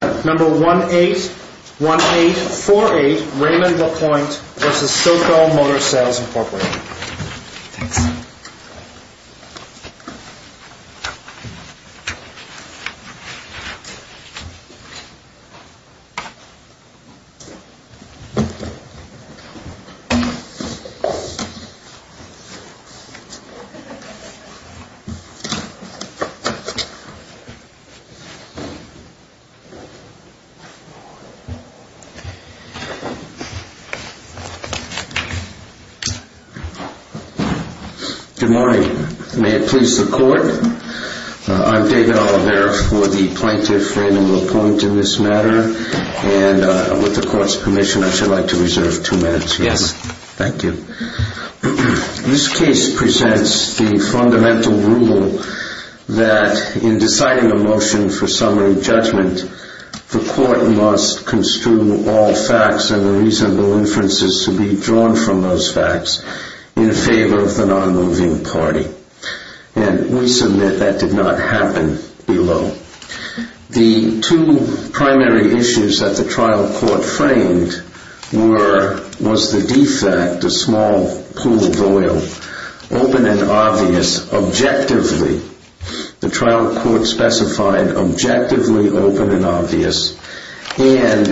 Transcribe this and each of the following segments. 1848 Raymond LaPointe v. Silko Motor Sales, Inc. Good morning. May it please the Court, I'm David Allabert for the Plaintiff Raymond LaPointe in this matter, and with the Court's permission I'd like to reserve two minutes here. Yes, thank you. This case presents the fundamental rule that in deciding a motion for summary judgment, the Court must construe all facts and the reasonable inferences to be drawn from those facts in favor of the non-moving party, and we submit that did not happen below. The two primary issues that the trial court framed were, was the defect, a small pool of oil, open and obvious, objectively. The trial court specified objectively open and obvious, and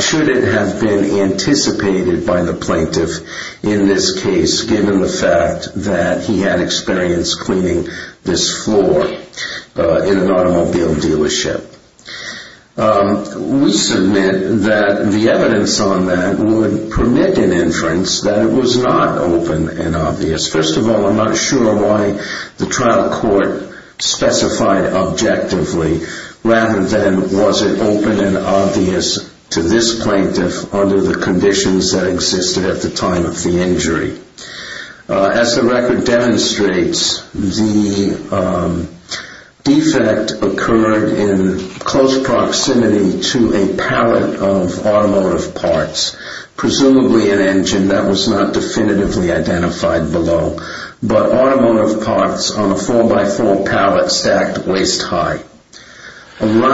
should it have been anticipated by the Plaintiff in this case, given the fact that he had experience cleaning this floor in an automobile dealership. We submit that the evidence on that would permit an inference that it was not open and obvious. First of all, I'm not sure why the trial court specified objectively rather than was it open and obvious to this Plaintiff under the conditions that existed at the time of the injury. As the record demonstrates, the defect occurred in close proximity to a pallet of automotive parts, presumably an engine that was not definitively identified below, but automotive parts on a 4x4 pallet stacked waist high. Thank you.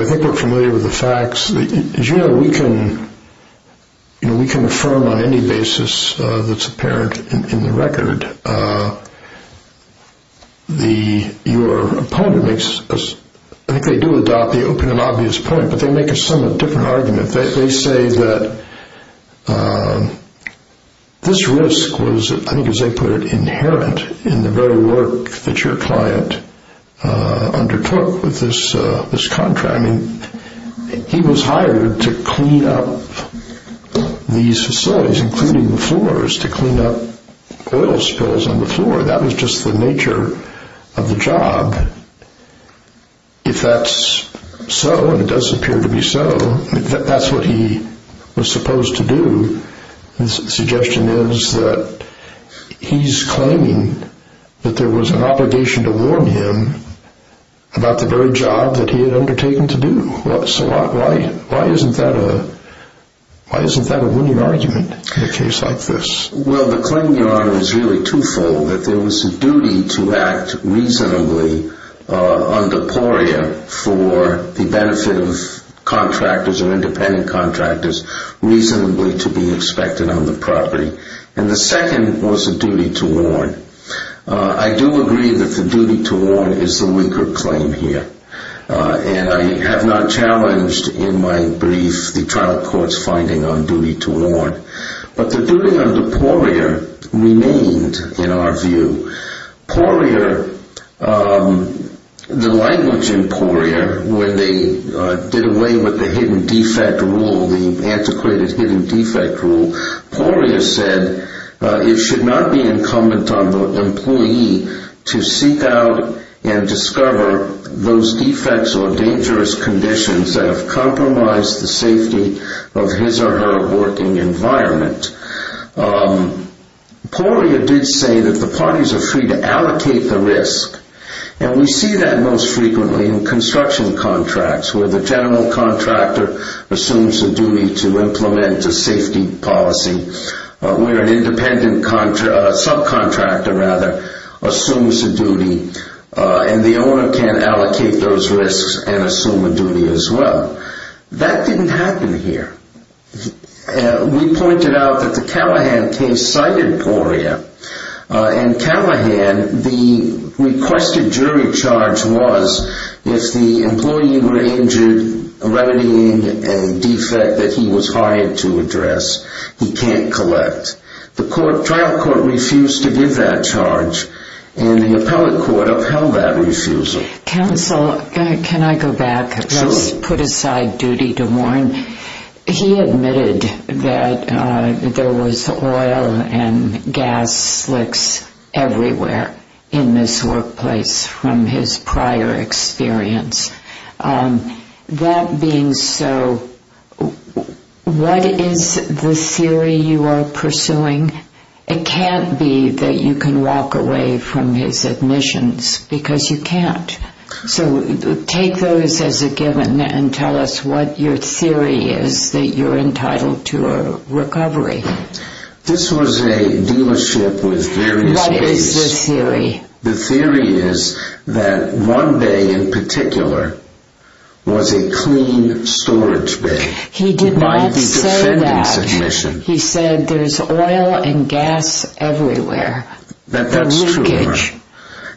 I think we're familiar with the facts. As you know, we can affirm on any basis that's apparent in the record. Your opponent makes, I think they do adopt the open and obvious point, but they make a somewhat different argument. They say that this risk was, I think as they put it, inherent in the very work that your client undertook with this contract. I mean, he was hired to clean up these facilities, including the floors, to clean up oil spills on the floor. That was just the nature of the job. If that's so, and it does appear to be so, that's what he was supposed to do. The suggestion is that he's claiming that there was an obligation to warn him about the very job that he had undertaken to do. Why isn't that a winning argument in a case like this? Well, the claim, Your Honor, is really two-fold. That there was a duty to act reasonably under PORIA for the benefit of contractors or independent contractors, reasonably to be expected on the property. And the second was a duty to warn. I do agree that the duty to warn is the weaker claim here. And I have not challenged in my brief the trial court's finding on duty to warn. But the duty under PORIA remained, in our view. PORIA, the language in PORIA, when they did away with the hidden defect rule, the antiquated hidden defect rule, PORIA said it should not be incumbent on the employee to seek out and discover those defects or dangerous conditions that have compromised the safety of his or her working environment. PORIA did say that the parties are free to allocate the risk. And we see that most frequently in construction contracts, where the general contractor assumes the duty to implement a safety policy, where an independent subcontractor, rather, assumes the duty and the owner can allocate those risks and assume a duty as well. That didn't happen here. We pointed out that the Callahan case cited PORIA. In Callahan, the requested jury charge was if the employee were injured, a remedy, a defect that he was hired to address, he can't collect. The trial court refused to give that charge and the appellate court upheld that refusal. Counsel, can I go back? Let's put aside duty to warn. He admitted that there was oil and gas slicks everywhere in this workplace from his prior experience. That being so, what is the theory you are pursuing? It can't be that you can walk away from his admissions because you can't. So take those as a given and tell us what your theory is that you're entitled to a recovery. This was a dealership with various bays. What is the theory? The theory is that one bay in particular was a clean storage bay. He did not say that. He said there's oil and gas everywhere. That's true.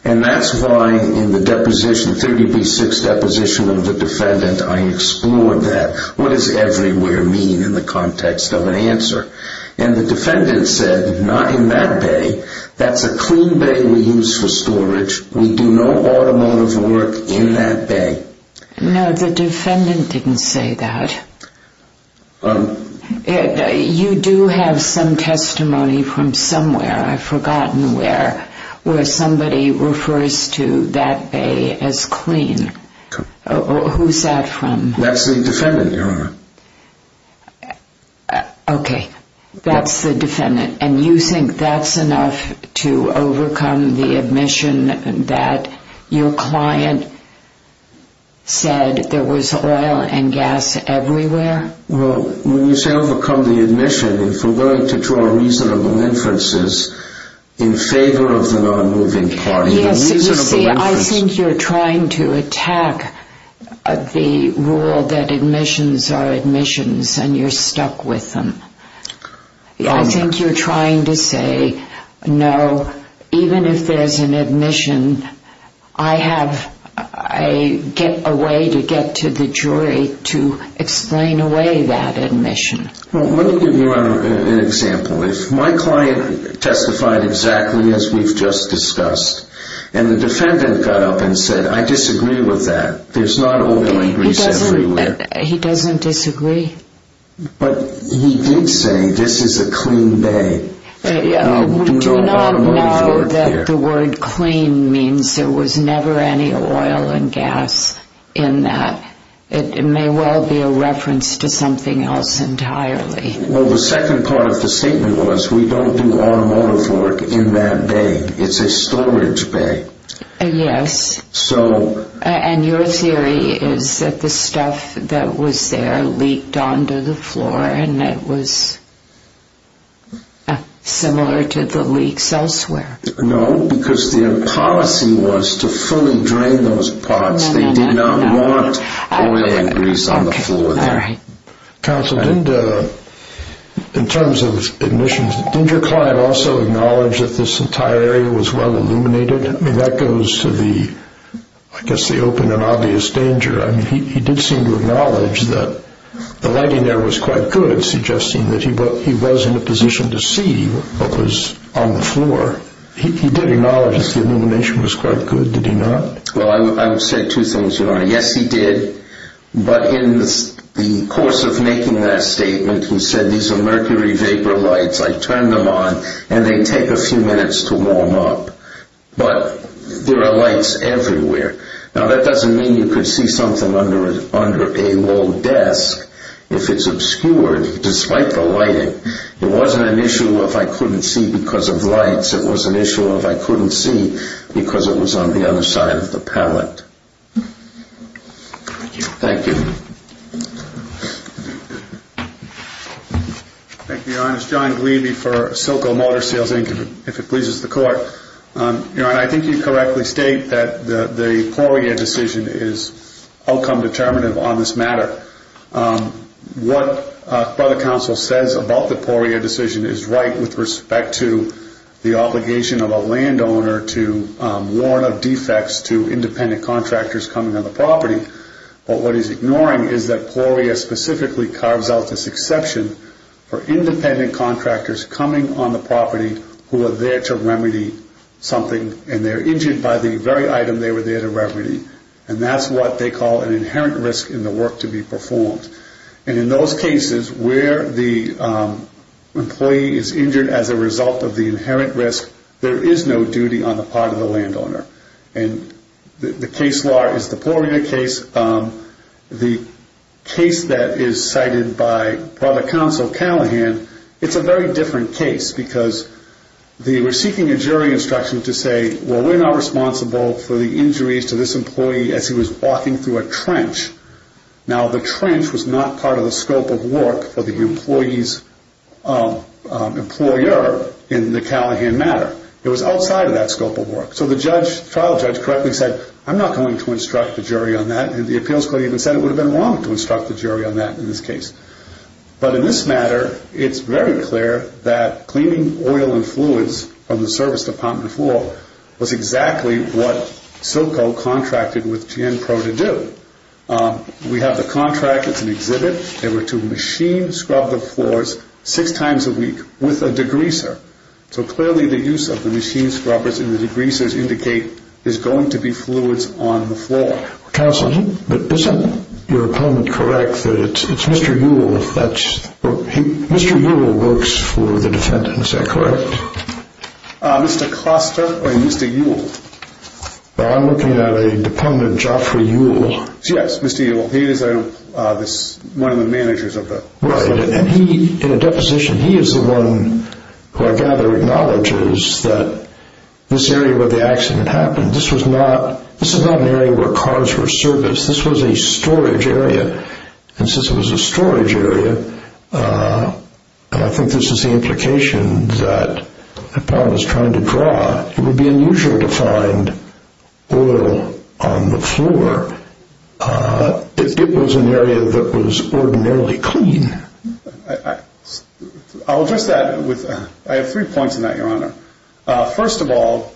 And that's why in the 30B6 deposition of the defendant, I explored that. What does everywhere mean in the context of an answer? And the defendant said, not in that bay. That's a clean bay we use for storage. We do no automotive work in that bay. No, the defendant didn't say that. You do have some testimony from somewhere, I've forgotten where, where somebody refers to that bay as clean. Who's that from? That's the defendant, Your Honor. Okay, that's the defendant. And you think that's enough to overcome the admission that your client said there was oil and gas everywhere? Well, when you say overcome the admission, if we're going to draw reasonable inferences in favor of the non-moving party, the reasonable inferences... and you're stuck with them. I think you're trying to say, no, even if there's an admission, I have a way to get to the jury to explain away that admission. Well, let me give you an example. If my client testified exactly as we've just discussed, and the defendant got up and said, I disagree with that. There's not oil and grease everywhere. He doesn't disagree? But he did say, this is a clean bay. We do not know that the word clean means there was never any oil and gas in that. It may well be a reference to something else entirely. Well, the second part of the statement was, we don't do automotive work in that bay. It's a storage bay. Yes. So... And your theory is that the stuff that was there leaked onto the floor, and it was similar to the leaks elsewhere? No, because their policy was to fully drain those parts. They did not want oil and grease on the floor there. Counsel, in terms of admissions, didn't your client also acknowledge that this entire area was well illuminated? I mean, that goes to the, I guess, the open and obvious danger. I mean, he did seem to acknowledge that the lighting there was quite good, suggesting that he was in a position to see what was on the floor. He did acknowledge that the illumination was quite good, did he not? Well, I would say two things, Your Honor. Yes, he did. But in the course of making that statement, he said, these are mercury vapor lights. I turned them on, and they take a few minutes to warm up. But there are lights everywhere. Now, that doesn't mean you could see something under a walled desk if it's obscured, despite the lighting. It wasn't an issue of I couldn't see because of lights. It was an issue of I couldn't see because it was on the other side of the pallet. Thank you. Thank you, Your Honor. This is John Glebe for Silco Motor Sales, Inc., if it pleases the Court. Your Honor, I think you correctly state that the Poirier decision is outcome determinative on this matter. But what the Counsel says about the Poirier decision is right with respect to the obligation of a landowner to warn of defects to independent contractors coming on the property. But what he's ignoring is that Poirier specifically carves out this exception for independent contractors coming on the property who are there to remedy something. And they're injured by the very item they were there to remedy. And that's what they call an inherent risk in the work to be performed. And in those cases where the employee is injured as a result of the inherent risk, there is no duty on the part of the landowner. And the case law is the Poirier case. The case that is cited by Brother Counsel Callahan, it's a very different case because they were seeking a jury instruction to say, well, we're not responsible for the injuries to this employee as he was walking through a trench. Now, the trench was not part of the scope of work for the employee's employer in the Callahan matter. It was outside of that scope of work. So the trial judge correctly said, I'm not going to instruct the jury on that. And the appeals court even said it would have been wrong to instruct the jury on that in this case. But in this matter, it's very clear that cleaning oil and fluids from the service department floor was exactly what Silco contracted with GN Pro to do. We have the contract. It's an exhibit. They were to machine scrub the floors six times a week with a degreaser. So clearly, the use of the machine scrubbers and the degreasers indicate there's going to be fluids on the floor. Counselor, but isn't your opponent correct that it's Mr. Yule? Mr. Yule works for the defendant. Is that correct? Mr. Costa or Mr. Yule? I'm looking at a dependent, Geoffrey Yule. Yes, Mr. Yule. He is one of the managers of the- Right. And he, in a deposition, he is the one who I gather acknowledges that this area where the accident happened, this was not an area where cars were serviced. This was a storage area. And since it was a storage area, and I think this is the implication that Paul was trying to draw, it would be unusual to find oil on the floor if it was an area that was ordinarily clean. I'll address that with- I have three points on that, Your Honor. First of all,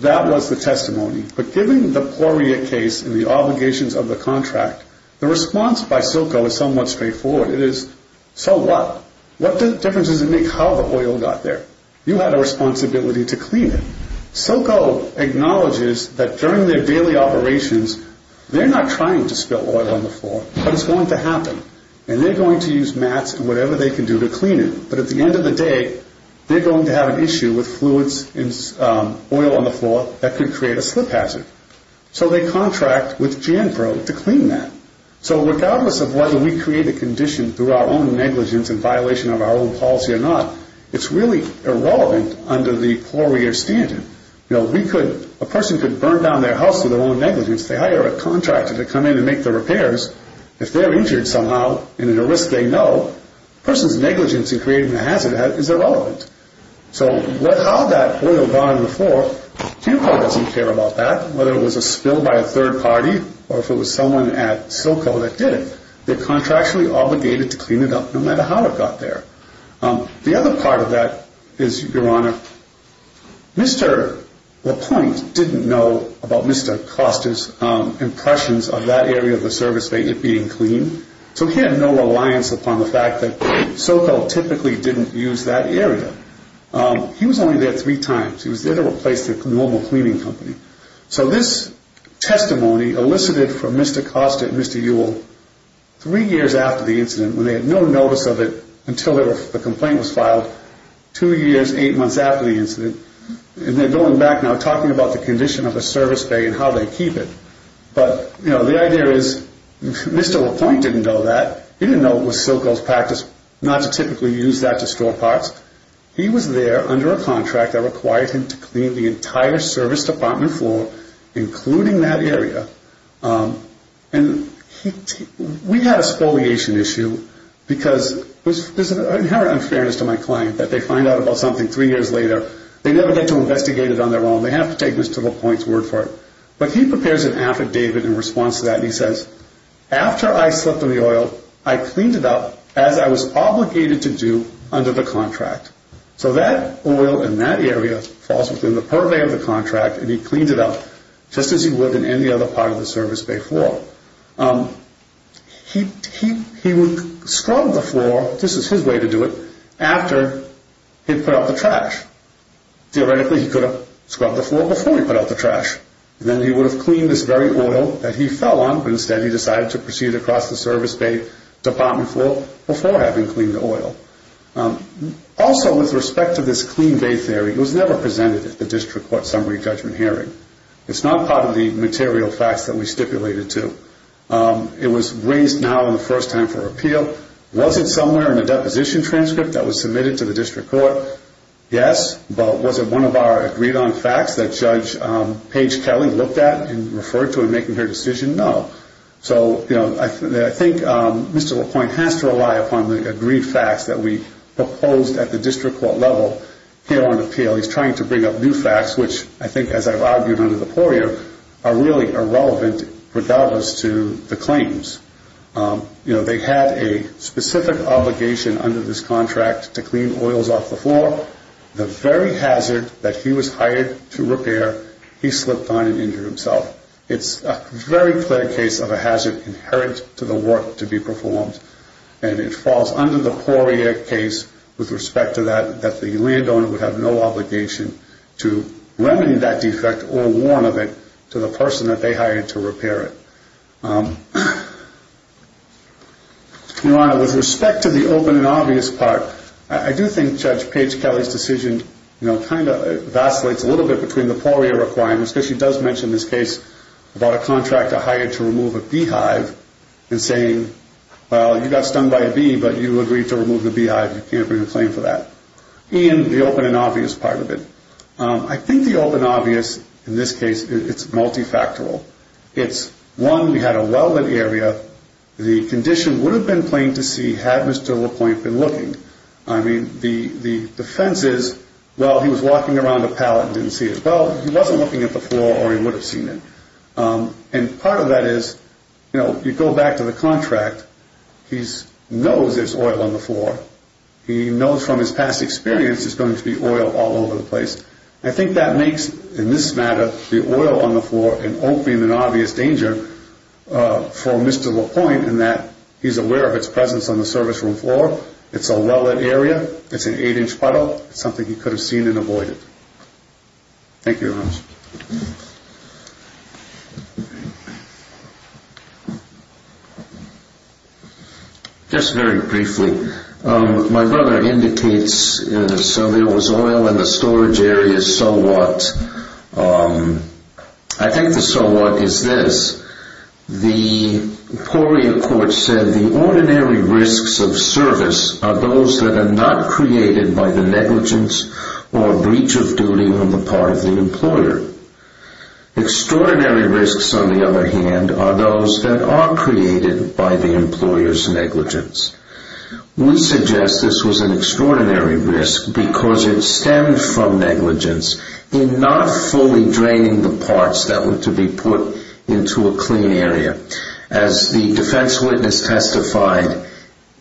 that was the testimony. But given the pluriot case and the obligations of the contract, the response by Silco is somewhat straightforward. It is, so what? What difference does it make how the oil got there? You had a responsibility to clean it. Silco acknowledges that during their daily operations, they're not trying to spill oil on the floor, but it's going to happen. And they're going to use mats and whatever they can do to clean it. But at the end of the day, they're going to have an issue with fluids and oil on the floor that could create a slip hazard. So they contract with Janpro to clean that. So regardless of whether we create a condition through our own negligence and violation of our own policy or not, it's really irrelevant under the pluriot standard. A person could burn down their house to their own negligence. They hire a contractor to come in and make the repairs. If they're injured somehow and at a risk they know, a person's negligence in creating a hazard is irrelevant. So how that oil got on the floor, Janpro doesn't care about that. Whether it was a spill by a third party or if it was someone at Silco that did it, they're contractually obligated to clean it up no matter how it got there. The other part of that is, Your Honor, Mr. LaPointe didn't know about Mr. Costa's impressions of that area of the service being clean. So he had no reliance upon the fact that Silco typically didn't use that area. He was only there three times. He was there to replace the normal cleaning company. So this testimony elicited from Mr. Costa and Mr. Ewell three years after the incident, when they had no notice of it until the complaint was filed, two years, eight months after the incident. And they're going back now talking about the condition of the service bay and how they keep it. But, you know, the idea is Mr. LaPointe didn't know that. He didn't know it was Silco's practice not to typically use that to store parts. He was there under a contract that required him to clean the entire service department floor, including that area. And we had a spoliation issue because there's an inherent unfairness to my client that they find out about something three years later. They never get to investigate it on their own. They have to take Mr. LaPointe's word for it. But he prepares an affidavit in response to that, and he says, after I slipped on the oil, I cleaned it up as I was obligated to do under the contract. So that oil in that area falls within the purvey of the contract, and he cleaned it up just as he would in any other part of the service bay floor. He would scrub the floor, this is his way to do it, after he'd put out the trash. Theoretically, he could have scrubbed the floor before he put out the trash, and then he would have cleaned this very oil that he fell on, but instead he decided to proceed across the service bay department floor before having cleaned the oil. Also, with respect to this clean bay theory, it was never presented at the district court summary judgment hearing. It's not part of the material facts that we stipulated to. It was raised now in the first time for appeal. Was it somewhere in the deposition transcript that was submitted to the district court? Yes. But was it one of our agreed-on facts that Judge Paige Kelly looked at and referred to in making her decision? No. So, you know, I think Mr. LaPointe has to rely upon the agreed facts that we proposed at the district court level. Here on appeal, he's trying to bring up new facts, which I think, as I've argued, are really irrelevant regardless to the claims. You know, they had a specific obligation under this contract to clean oils off the floor. The very hazard that he was hired to repair, he slipped on and injured himself. It's a very clear case of a hazard inherent to the work to be performed, and it falls under the Poirier case with respect to that, that the landowner would have no obligation to remedy that defect or warn of it to the person that they hired to repair it. Your Honor, with respect to the open and obvious part, I do think Judge Paige Kelly's decision, you know, kind of vacillates a little bit between the Poirier requirements, because she does mention this case about a contractor hired to remove a beehive, and saying, well, you got stung by a bee, but you agreed to remove the beehive. You can't bring a claim for that. And the open and obvious part of it. I think the open and obvious, in this case, it's multifactorial. It's, one, we had a welded area. The condition would have been plain to see had Mr. LaPointe been looking. I mean, the defense is, well, he was walking around the pallet and didn't see it. Well, he wasn't looking at the floor or he would have seen it. And part of that is, you know, you go back to the contract, he knows there's oil on the floor. He knows from his past experience there's going to be oil all over the place. I think that makes, in this matter, the oil on the floor an open and obvious danger for Mr. LaPointe, in that he's aware of its presence on the service room floor. It's a welded area. It's an 8-inch puddle. It's something he could have seen and avoided. Thank you very much. Thank you. Just very briefly, my brother indicates, so there was oil in the storage area. So what? I think the so what is this. The Poria Court said, The ordinary risks of service are those that are not created by the negligence or breach of duty on the part of the employer. Extraordinary risks, on the other hand, are those that are created by the employer's negligence. We suggest this was an extraordinary risk because it stemmed from negligence in not fully draining the parts that were to be put into a clean area. As the defense witness testified,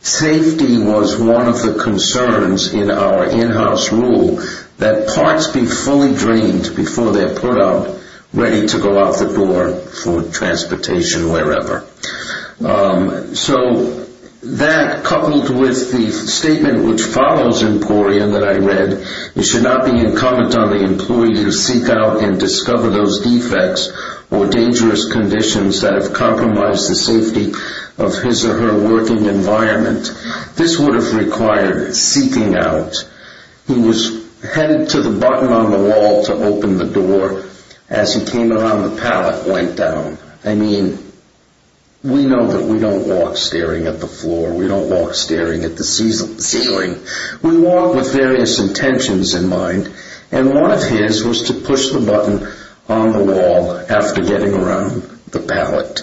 safety was one of the concerns in our in-house rule that parts be fully drained before they're put up, ready to go out the door for transportation wherever. So that, coupled with the statement which follows in Poria that I read, it should not be incumbent on the employee to seek out and discover those defects or dangerous conditions that have compromised the safety of his or her working environment. This would have required seeking out. He was headed to the button on the wall to open the door. As he came around, the pallet went down. I mean, we know that we don't walk staring at the floor. We don't walk staring at the ceiling. We walk with various intentions in mind, and one of his was to push the button on the wall after getting around the pallet.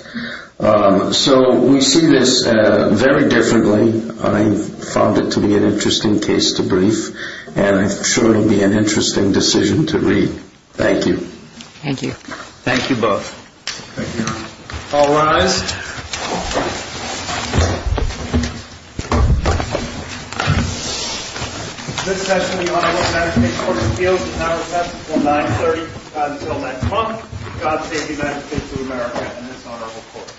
So we see this very differently. I found it to be an interesting case to brief, and I'm sure it will be an interesting decision to read. Thank you. Thank you. Thank you both. Thank you. All rise. This session of the Honorable Medicaid Court Appeals is now recessed until 930. Until next month, God save the United States of America and this honorable court.